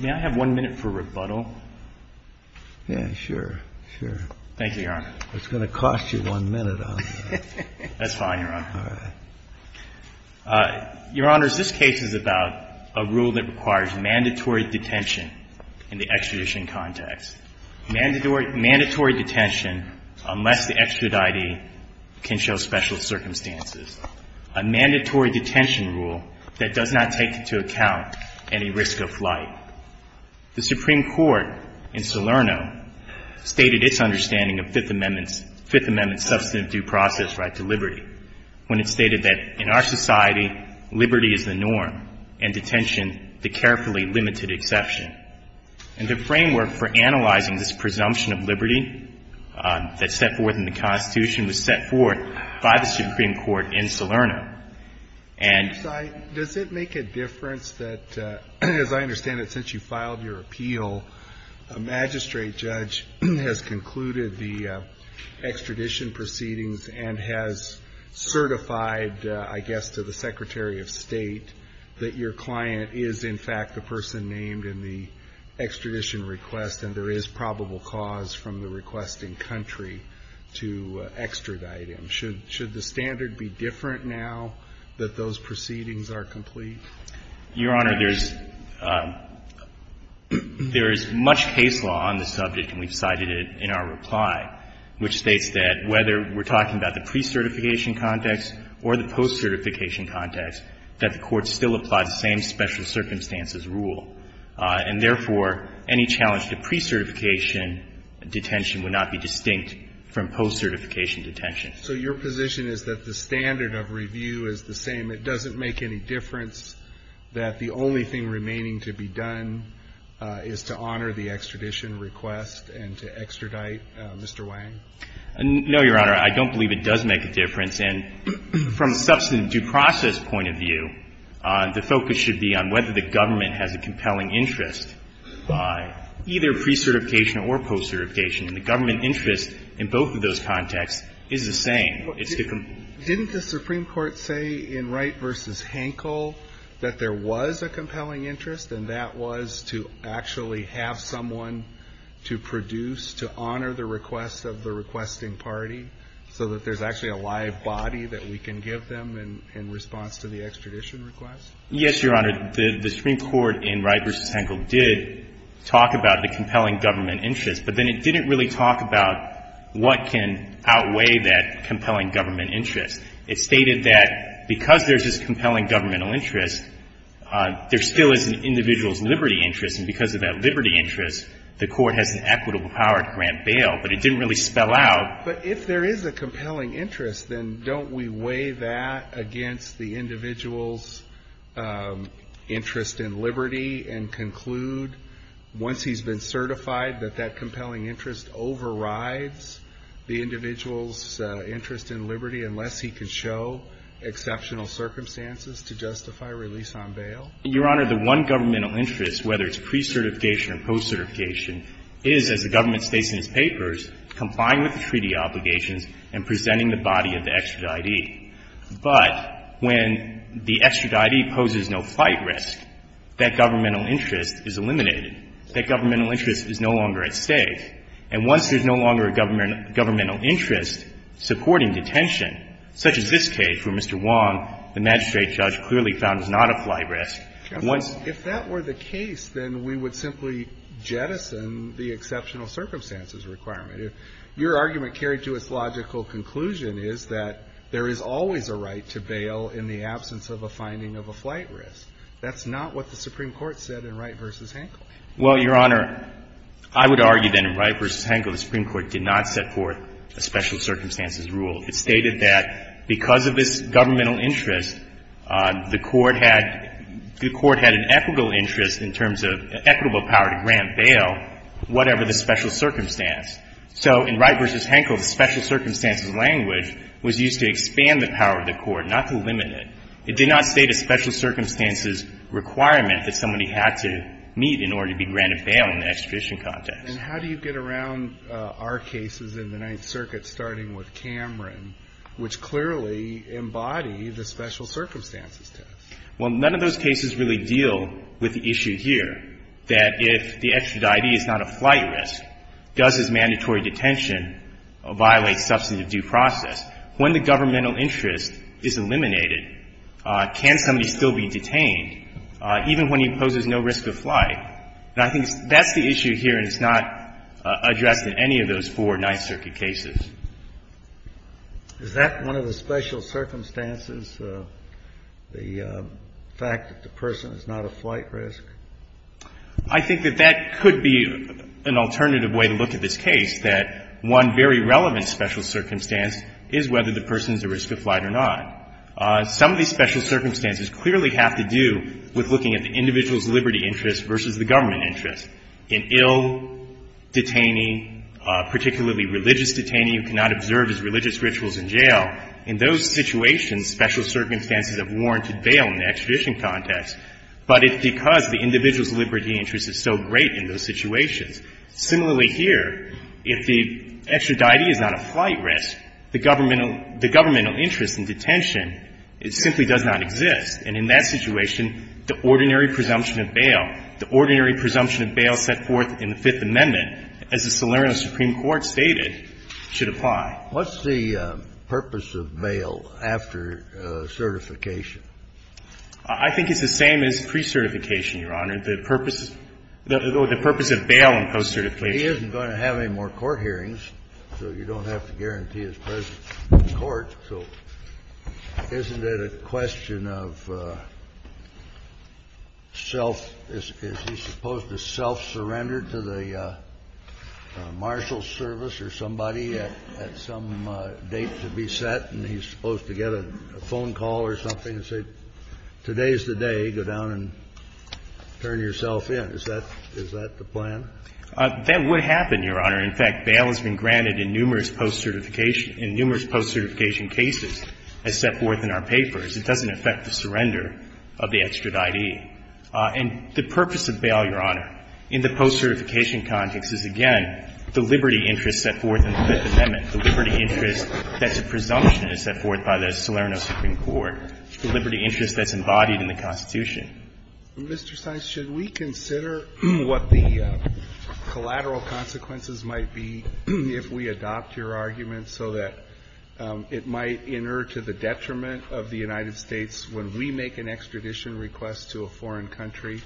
May I have one minute for rebuttal? Yeah, sure, sure. Thank you, Your Honor. It's going to cost you one minute, I'm afraid. That's fine, Your Honor. All right. Your Honor, this case is about a rule that requires mandatory detention in the extradition context. Mandatory detention unless the extraditee can show special circumstances. A mandatory detention rule that does not take into account any risk of flight. The Supreme Court in Salerno stated its understanding of Fifth Amendment substantive due process right to liberty when it stated that, in our society, liberty is the norm and detention the carefully limited exception. And the framework for analyzing this presumption of liberty that's set forth in the Constitution was set forth by the Supreme Court in Salerno. And Does it make a difference that, as I understand it, since you filed your appeal, a magistrate judge has concluded the extradition proceedings and has certified, I guess, to the Secretary of State that your client is, in fact, the person named in the extradition request and there is probable cause from the requesting country to extradite him? Should the standard be different now that those proceedings are complete? Your Honor, there's much case law on the subject, and we've cited it in our reply, which states that whether we're talking about the pre-certification context or the post-certification context, that the Court still applies the same special circumstances rule, and therefore, any challenge to pre-certification detention would not be distinct from post-certification detention. So your position is that the standard of review is the same, it doesn't make any difference, that the only thing remaining to be done is to honor the extradition request and to extradite Mr. Wang? No, Your Honor. I don't believe it does make a difference. And from substantive due process point of view, the focus should be on whether the government has a compelling interest by either pre-certification or post-certification. And the government interest in both of those contexts is the same. Didn't the Supreme Court say in Wright v. Hankel that there was a compelling interest, and that was to actually have someone to produce, to honor the request of the requesting party, so that there's actually a live body that we can give them in response to the extradition request? Yes, Your Honor. The Supreme Court in Wright v. Hankel did talk about the compelling government interest, but then it didn't really talk about what can outweigh that compelling government interest. It stated that because there's this compelling governmental interest, there still is an individual's liberty interest, and because of that liberty interest, the Court has an equitable power to grant bail, but it didn't really spell out. But if there is a compelling interest, then don't we weigh that against the individual's interest in liberty and conclude, once he's been certified, that that compelling interest overrides the individual's interest in liberty, unless he can show exceptional circumstances to justify release on bail? Your Honor, the one governmental interest, whether it's pre-certification or post-certification, is, as the government states in its papers, complying with the treaty obligations and presenting the body of the extraditee. But when the extraditee poses no flight risk, that governmental interest is eliminated. That governmental interest is no longer at stake. And once there's no longer a governmental interest supporting detention, such as this case where Mr. Wong, the magistrate judge, clearly found it's not a flight risk, once the case is eliminated. And that's why we jettison the exceptional circumstances requirement. If your argument carried to its logical conclusion is that there is always a right to bail in the absence of a finding of a flight risk, that's not what the Supreme Court said in Wright v. Hankel. Well, Your Honor, I would argue, then, in Wright v. Hankel, the Supreme Court did not set forth a special circumstances rule. It stated that because of this governmental interest, the Court had an equitable interest in terms of equitable power to grant bail, whatever the special circumstance. So in Wright v. Hankel, the special circumstances language was used to expand the power of the Court, not to limit it. It did not state a special circumstances requirement that somebody had to meet in order to be granted bail in the extradition context. And how do you get around our cases in the Ninth Circuit, starting with Cameron, which clearly embody the special circumstances test? Well, none of those cases really deal with the issue here, that if the extraditee is not a flight risk, does his mandatory detention violate substantive due process? When the governmental interest is eliminated, can somebody still be detained, even when he poses no risk of flight? And I think that's the issue here, and it's not addressed in any of those four Ninth Circuit cases. Is that one of the special circumstances, the fact that the person is not a flight risk? I think that that could be an alternative way to look at this case, that one very relevant special circumstance is whether the person is at risk of flight or not. Some of these special circumstances clearly have to do with looking at the individual's liberty interest versus the government interest. In ill detainee, particularly religious detainee who cannot observe his religious rituals in jail, in those situations special circumstances have warranted bail in the extradition context. But it's because the individual's liberty interest is so great in those situations. Similarly here, if the extraditee is not a flight risk, the governmental interest in detention simply does not exist. And in that situation, the ordinary presumption of bail, the ordinary presumption of bail set forth in the Fifth Amendment, as the Solerno Supreme Court stated, should apply. Kennedy, what's the purpose of bail after certification? I think it's the same as pre-certification, Your Honor. The purpose of bail in post-certification. He isn't going to have any more court hearings, so you don't have to guarantee his presence in court. So isn't it a question of self – is he supposed to self-surrender to the marshal's service or somebody at some date to be set, and he's supposed to get a phone call or something and say, today's the day, go down and turn yourself in? Is that the plan? That would happen, Your Honor. In fact, bail has been granted in numerous post-certification – in numerous post-certification cases as set forth in our papers. It doesn't affect the surrender of the extraditee. And the purpose of bail, Your Honor, in the post-certification context is, again, the liberty interest set forth in the Fifth Amendment, the liberty interest that's a presumption that's set forth by the Solerno Supreme Court, the liberty interest that's embodied in the Constitution. Mr. Stein, should we consider what the collateral consequences might be if we adopt your argument so that it might inert to the detriment of the United States when we make an extradition request to a foreign country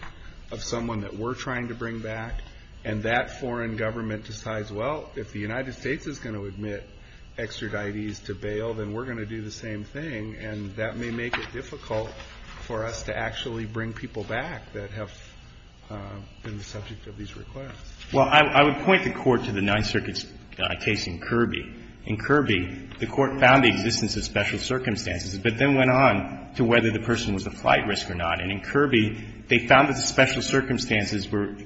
of someone that we're trying to bring back, and that foreign government decides, well, if the United States is going to admit extraditees to bail, then we're going to do the same thing, and that may make it difficult for us to actually bring people back that have been the subject of these requests. Well, I would point the Court to the Ninth Circuit's case in Kirby. In Kirby, the Court found the existence of special circumstances, but then went on to whether the person was a flight risk or not. And in Kirby, they found that the special circumstances were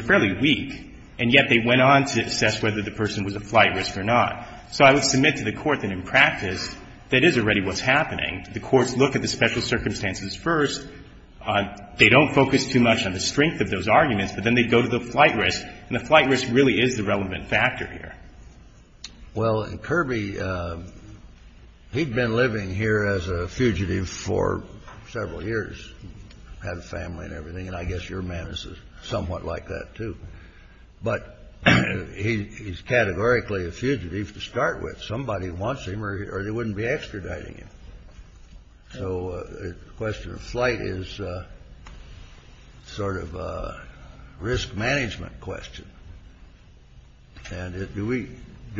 fairly weak, and yet they went on to assess whether the person was a flight risk or not. So I would submit to the Court that in practice, that is already what's happening. The Courts look at the special circumstances first. They don't focus too much on the strength of those arguments, but then they go to the flight risk, and the flight risk really is the relevant factor here. Well, in Kirby, he'd been living here as a fugitive for several years, had a family and everything, and I guess your man is somewhat like that, too. But he's categorically a fugitive to start with. Somebody wants him or they wouldn't be extraditing him. So the question of flight is sort of a risk management question. And do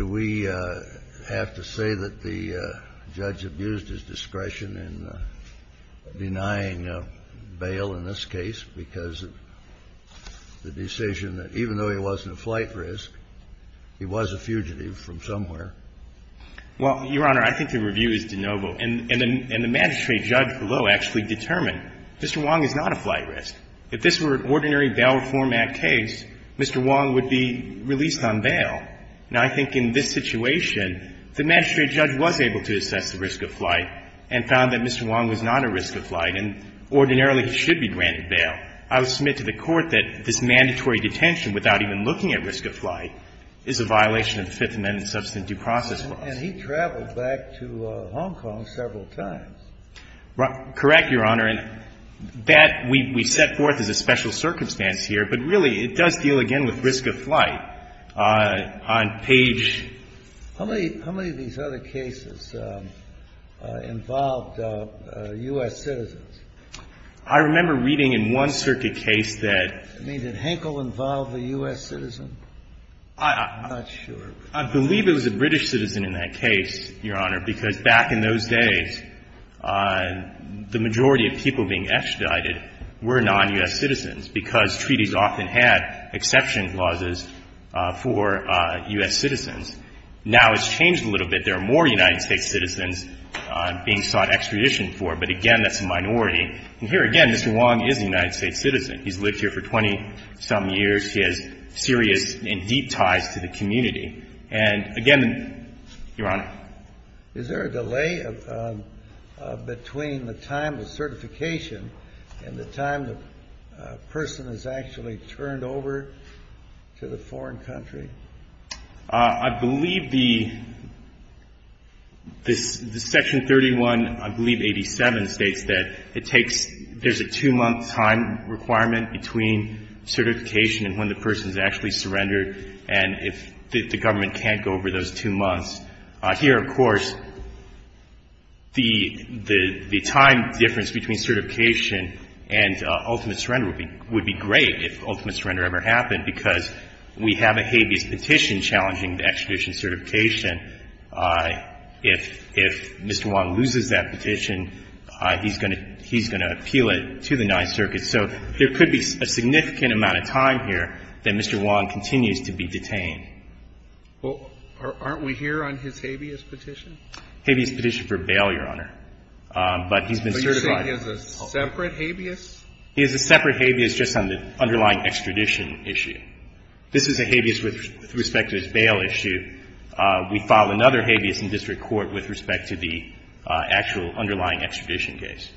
we have to say that the judge abused his discretion in denying bail in this case because of the decision that even though he wasn't a flight risk, he was a fugitive from somewhere? Well, Your Honor, I think the review is de novo. And the magistrate judge below actually determined Mr. Wong is not a flight risk. If this were an ordinary Bail Reform Act case, Mr. Wong would be released on bail. Now, I think in this situation, the magistrate judge was able to assess the risk of flight and found that Mr. Wong was not a risk of flight, and ordinarily he should be granted bail. I would submit to the Court that this mandatory detention without even looking at risk of flight is a violation of the Fifth Amendment substantive due process laws. And he traveled back to Hong Kong several times. Correct, Your Honor. And that we set forth as a special circumstance here, but really it does deal, again, with risk of flight. On page ---- How many of these other cases involved U.S. citizens? I remember reading in one circuit case that ---- I mean, did Henkel involve a U.S. citizen? I'm not sure. I believe it was a British citizen in that case, Your Honor, because back in those days, the majority of people being extradited were non-U.S. citizens, because treaties often had exception clauses for U.S. citizens. Now it's changed a little bit. There are more United States citizens being sought extradition for, but again, that's a minority. And here again, Mr. Wong is a United States citizen. He's lived here for 20-some years. He has serious and deep ties to the community. And again, Your Honor. Is there a delay of ---- between the time of certification and the time the person is actually turned over to the foreign country? I believe the ---- this section 31, I believe 87, states that it takes ---- there's a two-month time requirement between certification and when the person is actually surrendered, and if the government can't go over those two months. Here, of course, the time difference between certification and ultimate surrender would be great if ultimate surrender ever happened, because we have a habeas petition challenging the extradition certification. If Mr. Wong loses that petition, he's going to appeal it to the Ninth Circuit. So there could be a significant amount of time here that Mr. Wong continues to be detained. Well, aren't we here on his habeas petition? Habeas petition for bail, Your Honor. But he's been certified. But you're saying he has a separate habeas? He has a separate habeas just on the underlying extradition issue. This is a habeas with respect to his bail issue. We file another habeas in district court with respect to the actual underlying extradition case.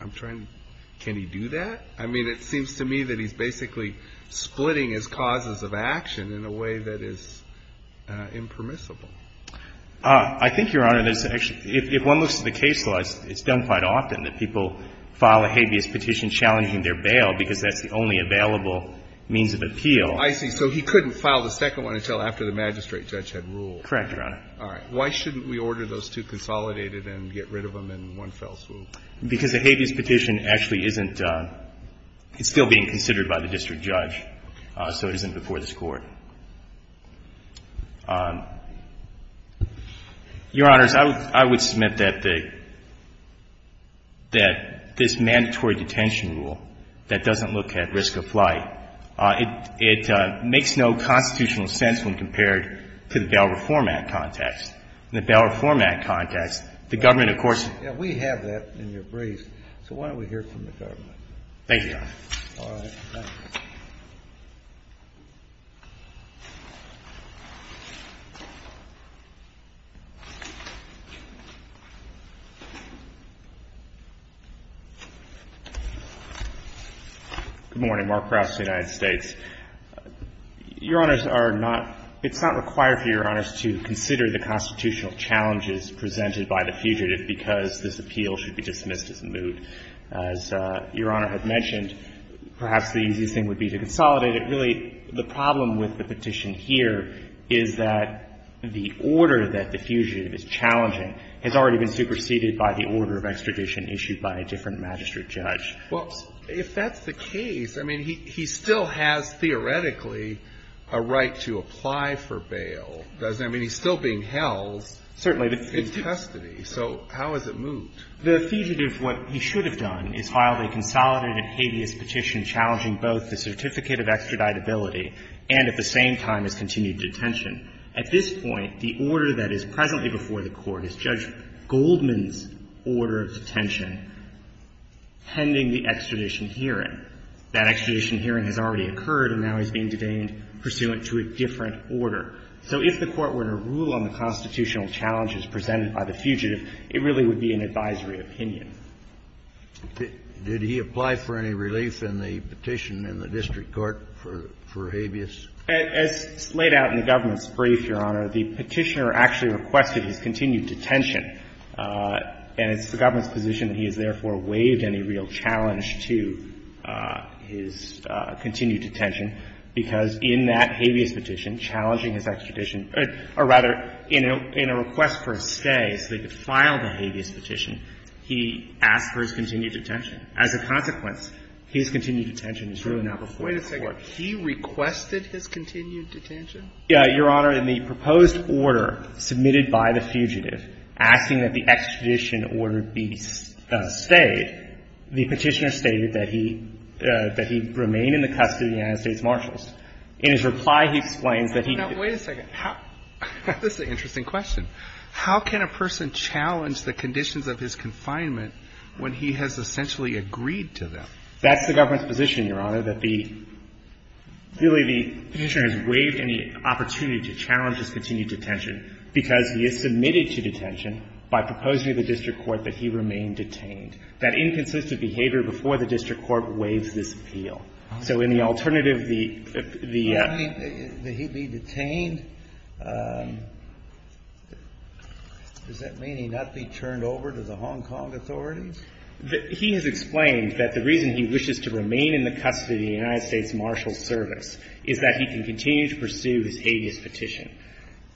I'm trying to ---- can he do that? I mean, it seems to me that he's basically splitting his causes of action in a way that is impermissible. I think, Your Honor, there's actually ---- if one looks at the case law, it's done quite often that people file a habeas petition challenging their bail because that's the only available means of appeal. I see. So he couldn't file the second one until after the magistrate judge had ruled. Correct, Your Honor. All right. Why shouldn't we order those two consolidated and get rid of them in one fell swoop? Because a habeas petition actually isn't ---- it's still being considered by the district judge, so it isn't before this Court. Your Honors, I would submit that the ---- that this mandatory detention rule that doesn't look at risk of flight, it makes no constitutional sense when compared to the Bail Reform Act context. In the Bail Reform Act context, the government, of course ---- We have that in your brief, so why don't we hear it from the government? Thank you, Your Honor. All right. Thank you. Good morning. Mark Krauss, United States. Your Honors, are not ---- it's not required for Your Honors to consider the constitutional challenges presented by the fugitive because this appeal should be dismissed as moot. As Your Honor had mentioned, perhaps the easiest thing would be to consolidate it. Really, the problem with the petition here is that the order that the fugitive is challenging has already been superseded by the order of extradition issued by a different magistrate judge. Well, if that's the case, I mean, he still has theoretically a right to apply for bail, doesn't he? I mean, he's still being held in custody. So how is it moot? The fugitive, what he should have done, is filed a consolidated habeas petition challenging both the certificate of extraditability and at the same time his continued detention. At this point, the order that is presently before the Court is Judge Goldman's order of detention pending the extradition hearing. That extradition hearing has already occurred, and now he's being detained pursuant to a different order. So if the Court were to rule on the constitutional challenges presented by the fugitive, it really would be an advisory opinion. Did he apply for any relief in the petition in the district court for habeas? As laid out in the government's brief, Your Honor, the Petitioner actually requested his continued detention. And it's the government's position that he has therefore waived any real challenge to his continued detention, because in that habeas petition, challenging his extradition or rather, in a request for a stay so they could file the habeas petition, he asked for his continued detention. As a consequence, his continued detention is really now before the Court. Wait a second. He requested his continued detention? Your Honor, in the proposed order submitted by the fugitive asking that the extradition order be stayed, the Petitioner stated that he remained in the custody of the United This is an interesting question. How can a person challenge the conditions of his confinement when he has essentially agreed to them? That's the government's position, Your Honor, that the — really, the Petitioner has waived any opportunity to challenge his continued detention because he is submitted to detention by proposing to the district court that he remain detained. That inconsistent behavior before the district court waives this appeal. So in the alternative, the — Does that mean that he'd be detained? Does that mean he'd not be turned over to the Hong Kong authorities? He has explained that the reason he wishes to remain in the custody of the United States Marshals Service is that he can continue to pursue his habeas petition.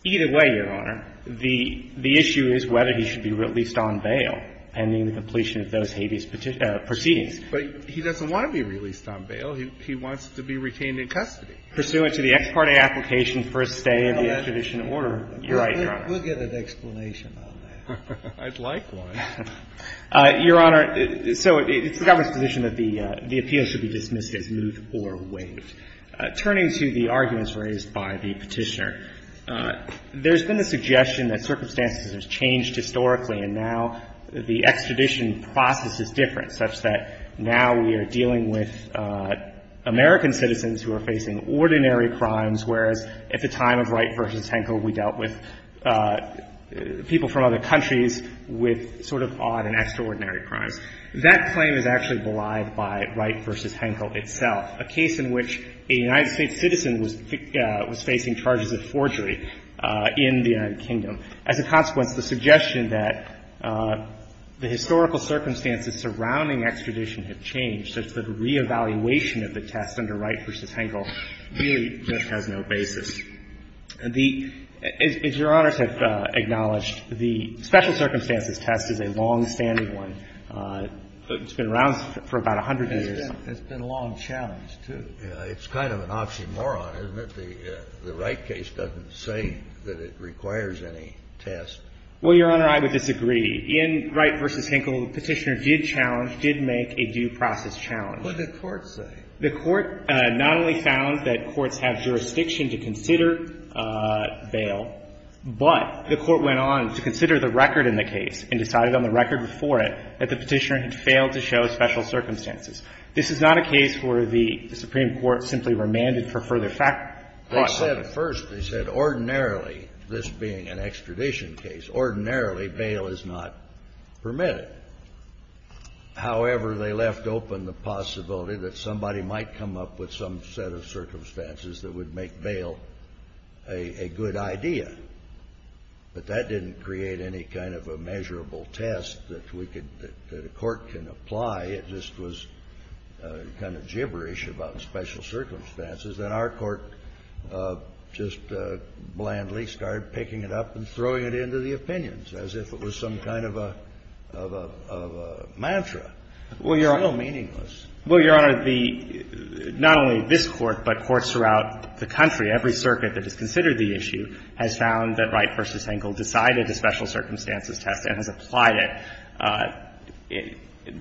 Either way, Your Honor, the issue is whether he should be released on bail pending the completion of those habeas proceedings. But he doesn't want to be released on bail. He wants to be retained in custody. Pursuant to the ex parte application for a stay of the extradition order. You're right, Your Honor. We'll get an explanation on that. I'd like one. Your Honor, so it's the government's position that the — the appeal should be dismissed as moved or waived. Turning to the arguments raised by the Petitioner, there's been a suggestion that circumstances have changed historically, and now the extradition process is different, such that now we are dealing with American citizens who are facing ordinary crimes, whereas at the time of Wright v. Henkel, we dealt with people from other countries with sort of odd and extraordinary crimes. That claim is actually belied by Wright v. Henkel itself, a case in which a United States citizen was — was facing charges of forgery in the United Kingdom. As a consequence, the suggestion that the historical circumstances surrounding extradition have changed, such that re-evaluation of the test under Wright v. Henkel really just has no basis. The — as Your Honors have acknowledged, the special circumstances test is a long-standing one. It's been around for about 100 years. It's been a long challenge, too. It's kind of an oxymoron, isn't it? The Wright case doesn't say that it requires any test. Well, Your Honor, I would disagree. In Wright v. Henkel, the Petitioner did challenge, did make a due process challenge. What did the Court say? The Court not only found that courts have jurisdiction to consider bail, but the Court went on to consider the record in the case and decided on the record before it that the Petitioner had failed to show special circumstances. This is not a case where the Supreme Court simply remanded for further fact — They said it first. They said ordinarily, this being an extradition case, ordinarily bail is not permitted. They said, however, they left open the possibility that somebody might come up with some set of circumstances that would make bail a — a good idea. But that didn't create any kind of a measurable test that we could — that a court can apply. It just was kind of gibberish about special circumstances. And our court just blandly started picking it up and throwing it into the opinions as if it was some kind of a — of a — of a mantra. It's so meaningless. Well, Your Honor, the — not only this Court, but courts throughout the country, every circuit that has considered the issue, has found that Wright v. Henkel decided a special circumstances test and has applied it.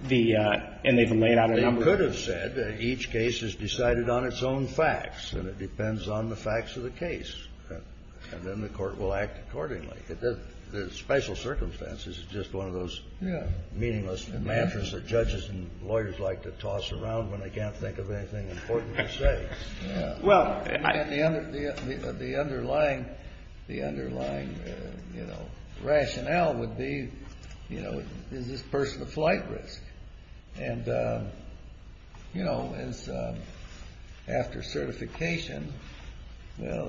The — and they've laid out a number of — They could have said that each case is decided on its own facts, and it depends on the facts of the case, and then the Court will act accordingly. The special circumstances is just one of those meaningless mantras that judges and lawyers like to toss around when they can't think of anything important to say. Well, the underlying — the underlying, you know, rationale would be, you know, is this person a flight risk? And, you know, after certification, well,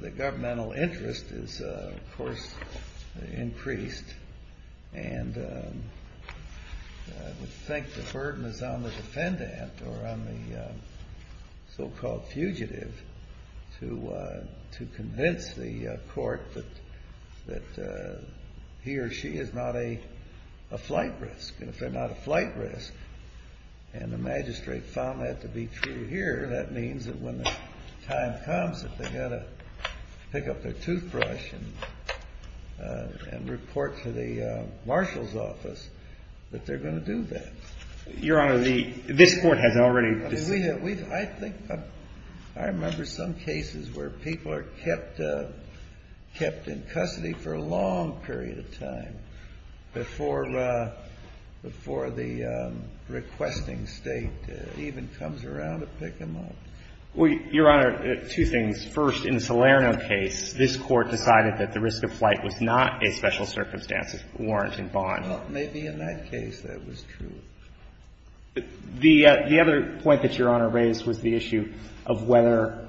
the governmental interest is, of course, increased, and I would think the burden is on the defendant or on the so-called fugitive to convince the Court that he or she is not a flight risk. And if they're not a flight risk, and the magistrate found that to be true here, that means that when the time comes that they've got to pick up their toothbrush and report to the marshal's office that they're going to do that. Your Honor, the — this Court has already — I mean, we have — I think — I remember some cases where people are kept in custody for a long period of time before the requesting State even comes around to pick them up. Well, Your Honor, two things. First, in the Salerno case, this Court decided that the risk of flight was not a special circumstances warrant and bond. Well, maybe in that case that was true. The other point that Your Honor raised was the issue of whether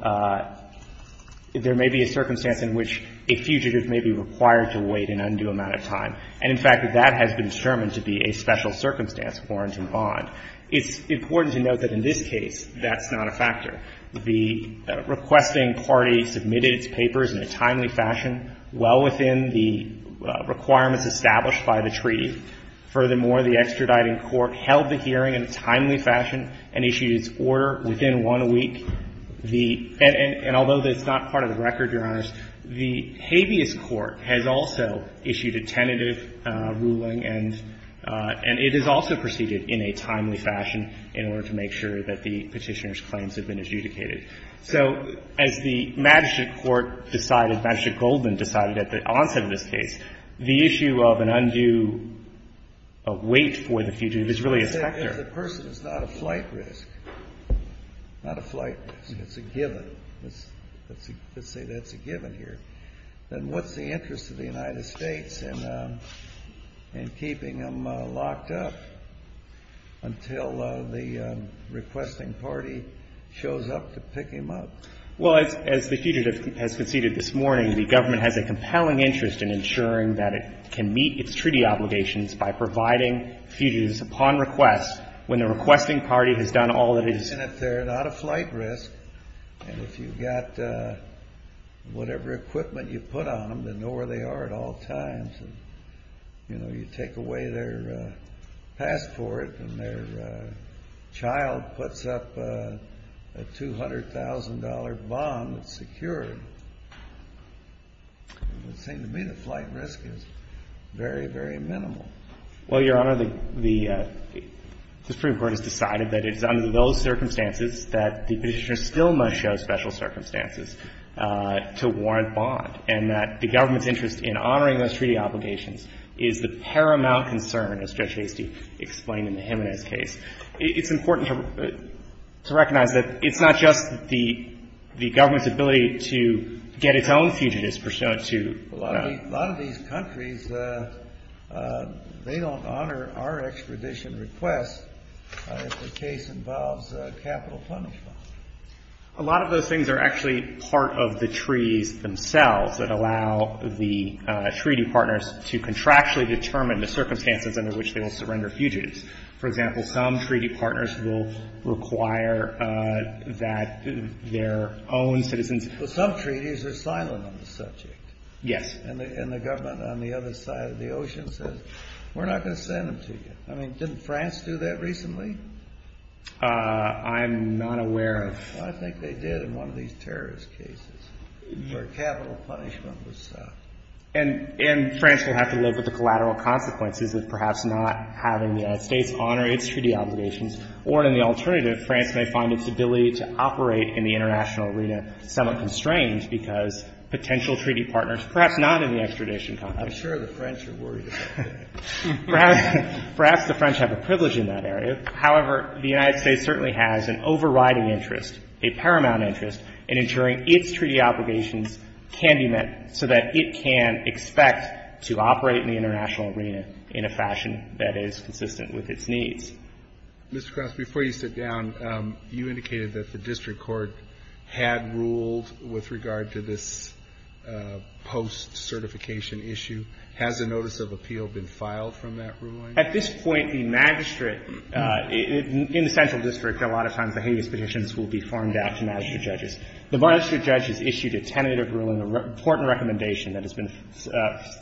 there may be a circumstance in which a fugitive may be required to wait an undue amount of time. And, in fact, that has been determined to be a special circumstance warrant and bond. It's important to note that in this case, that's not a factor. The requesting party submitted its papers in a timely fashion, well within the requirements established by the treaty. Furthermore, the extraditing court held the hearing in a timely fashion and issued its order within one week. The — and although that's not part of the record, Your Honors, the habeas court has also issued a tentative ruling, and it is also proceeded in a timely fashion in order to make sure that the petitioner's claims have been adjudicated. So as the Magistrate Court decided, Magistrate Goldman decided at the onset of this case, the issue of an undue wait for the fugitive is really a factor. If the person is not a flight risk, not a flight risk, it's a given, let's say that's a given here, then what's the interest of the United States in keeping them locked up until the requesting party shows up to pick him up? Well, as the fugitive has conceded this morning, the government has a compelling interest in ensuring that it can meet its treaty obligations by providing fugitives upon request when the requesting party has done all that it has — And if they're not a flight risk, and if you've got whatever equipment you put on them, know where they are at all times, and you take away their passport and their child puts up a $200,000 bond with security, it would seem to me the flight risk is very, very minimal. Well, Your Honor, the Supreme Court has decided that it is under those circumstances that the petitioner still must show special circumstances to warrant bond, and that the government's interest in honoring those treaty obligations is the paramount concern, as Judge Hasty explained in the Jimenez case. It's important to recognize that it's not just the government's ability to get its own fugitives pursuant to — A lot of these countries, they don't honor our extradition request if the case involves capital punishment. A lot of those things are actually part of the treaties themselves that allow the treaty partners to contractually determine the circumstances under which they will surrender fugitives. For example, some treaty partners will require that their own citizens — But some treaties are silent on the subject. Yes. And the government on the other side of the ocean says, we're not going to send them to you. I mean, didn't France do that recently? I'm not aware of — I think they did in one of these terrorist cases, where capital punishment was — And France will have to live with the collateral consequences of perhaps not having the United States honor its treaty obligations, or in the alternative, France may find its ability to operate in the international arena somewhat constrained because potential treaty partners, perhaps not in the extradition context — I'm sure the French are worried about that. Perhaps the French have a privilege in that area. However, the United States certainly has an overriding interest, a paramount interest, in ensuring its treaty obligations can be met so that it can expect to operate in the international arena in a fashion that is consistent with its needs. Mr. Krauss, before you sit down, you indicated that the district court had ruled with regard to this post-certification issue. Has a notice of appeal been filed from that ruling? At this point, the magistrate — in the central district, a lot of times, behaviorist petitions will be formed out to magistrate judges. The magistrate judge has issued a tentative ruling, a report and recommendation that has been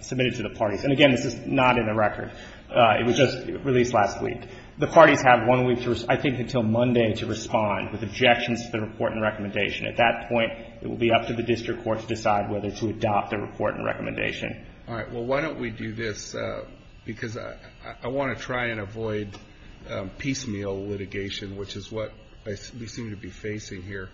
submitted to the parties. And again, this is not in the record. It was just released last week. The parties have one week to — I think until Monday to respond with objections to the report and recommendation. At that point, it will be up to the district court to decide whether to adopt the report and recommendation. All right. Well, why don't we do this? Because I want to try and avoid piecemeal litigation, which is what we seem to be facing here.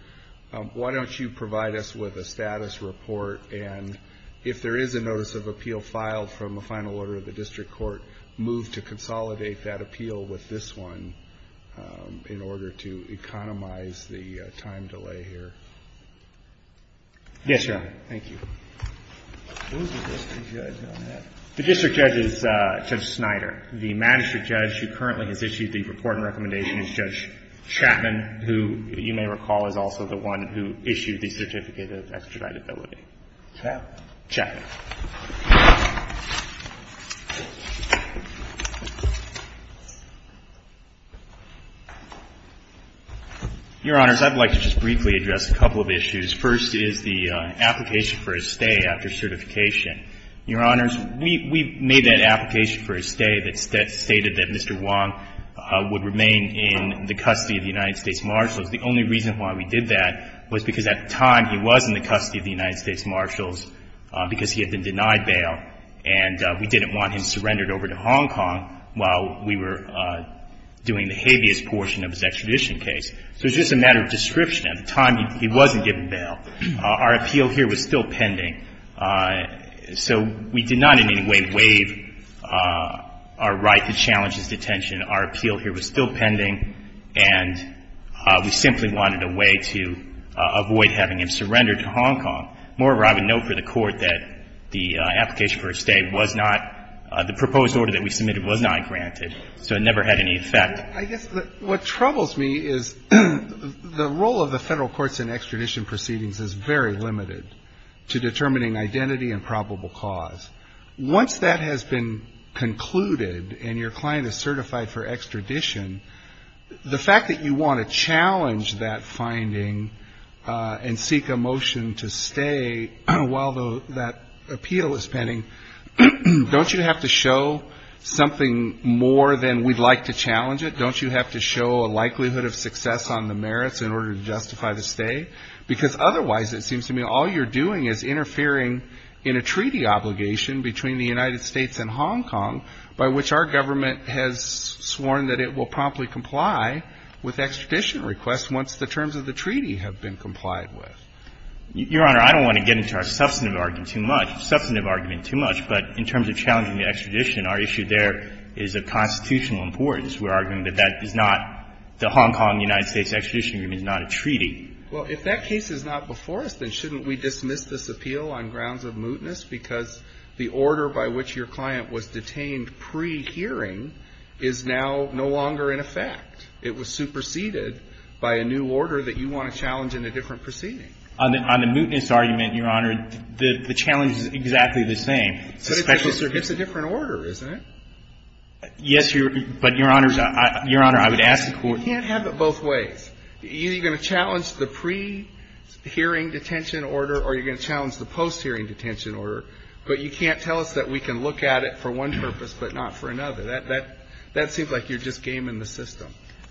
Why don't you provide us with a status report? And if there is a notice of appeal filed from a final order of the district court, move to consolidate that appeal with this one in order to economize the time delay here. Yes, Your Honor. Thank you. Who is the district judge on that? The district judge is Judge Snyder. The magistrate judge who currently has issued the report and recommendation is Judge Chapman, who you may recall is also the one who issued the certificate of extraditability. Chapman? Chapman. Your Honors, I'd like to just briefly address a couple of issues. First is the application for a stay after certification. Your Honors, we made that application for a stay that stated that Mr. Wong would remain in the custody of the United States Marshals. The only reason why we did that was because at the time he was in the custody of the United States Marshals because he had been denied bail, and we didn't want him surrendered over to Hong Kong while we were doing the habeas portion of his extradition case. So it's just a matter of description. At the time he wasn't given bail. Our appeal here was still pending. So we did not in any way waive our right to challenge his detention. Our appeal here was still pending, and we simply wanted a way to avoid having him surrendered to Hong Kong. Moreover, I would note for the Court that the application for a stay was not the proposed order that we submitted was not granted. So it never had any effect. I guess what troubles me is the role of the Federal Courts in extradition proceedings is very limited to determining identity and probable cause. Once that has been concluded and your client is certified for extradition, the fact that you want to challenge that finding and seek a motion to stay while that appeal is pending, don't you have to show something more than we'd like to don't you have to show a likelihood of success on the merits in order to justify the stay? Because otherwise it seems to me all you're doing is interfering in a treaty obligation between the United States and Hong Kong by which our government has sworn that it will promptly comply with extradition requests once the terms of the treaty have been complied with. Your Honor, I don't want to get into our substantive argument too much. Substantive argument too much, but in terms of challenging the extradition, our issue there is of constitutional importance. We're arguing that that is not the Hong Kong-United States extradition agreement is not a treaty. Well, if that case is not before us, then shouldn't we dismiss this appeal on grounds of mootness? Because the order by which your client was detained pre-hearing is now no longer in effect. It was superseded by a new order that you want to challenge in a different proceeding. On the mootness argument, Your Honor, the challenge is exactly the same. But it's a different order, isn't it? Yes, Your Honor. But, Your Honor, I would ask the Court to do that. You can't have it both ways. You're going to challenge the pre-hearing detention order or you're going to challenge the post-hearing detention order, but you can't tell us that we can look at it for one purpose but not for another. That seems like you're just gaming the system.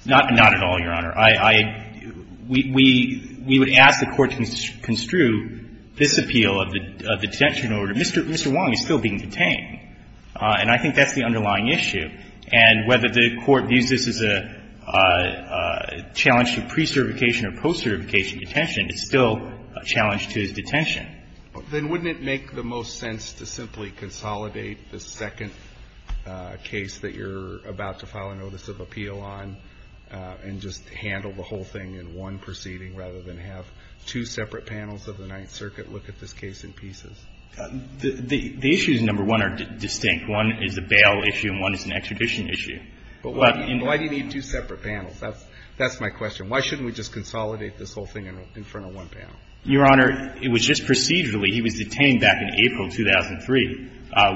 Not at all, Your Honor. I – we would ask the Court to construe this appeal of the detention order. Mr. Wong is still being detained. And I think that's the underlying issue. And whether the Court views this as a challenge to pre-certification or post-certification detention, it's still a challenge to his detention. Then wouldn't it make the most sense to simply consolidate the second case that you're about to file a notice of appeal on and just handle the whole thing in one proceeding rather than have two separate panels of the Ninth Circuit look at this case in pieces? The issues, number one, are distinct. One is a bail issue and one is an extradition issue. But in the other case, the court is going to look at it as a challenge to pre-certification detention. But why do you need two separate panels? That's my question. Why shouldn't we just consolidate this whole thing in front of one panel? Your Honor, it was just procedurally. He was detained back in April 2003.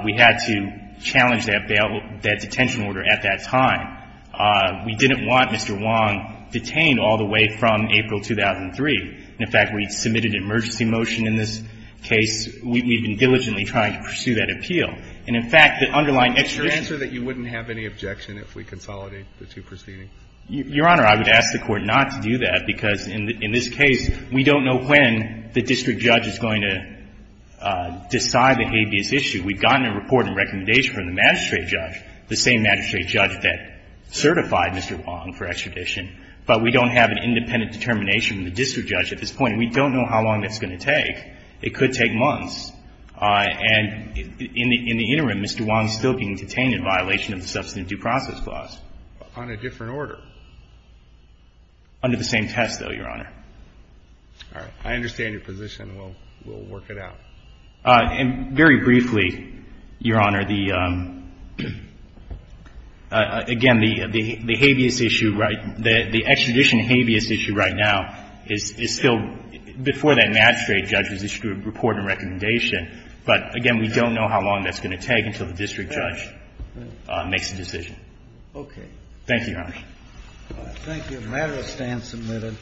We had to challenge that bail – that detention order at that time. We didn't want Mr. Wong detained all the way from April 2003. In fact, we submitted an emergency motion in this case. We've been diligently trying to pursue that appeal. And in fact, the underlying extradition – Your answer is that you wouldn't have any objection if we consolidated the two proceedings? Your Honor, I would ask the Court not to do that, because in this case, we don't know when the district judge is going to decide the habeas issue. We've gotten a report and recommendation from the magistrate judge, the same magistrate judge that certified Mr. Wong for extradition, but we don't have an independent determination from the district judge at this point. We don't know how long that's going to take. It could take months. And in the interim, Mr. Wong is still being detained in violation of the Substantive Due Process Clause. On a different order? Under the same test, though, Your Honor. All right. I understand your position. We'll work it out. And very briefly, Your Honor, the – again, the habeas issue – the extradition habeas issue right now is still – before that magistrate judge has issued a report and recommendation, but, again, we don't know how long that's going to take until the district judge makes a decision. Okay. Thank you, Your Honor. Thank you. The matter is then submitted.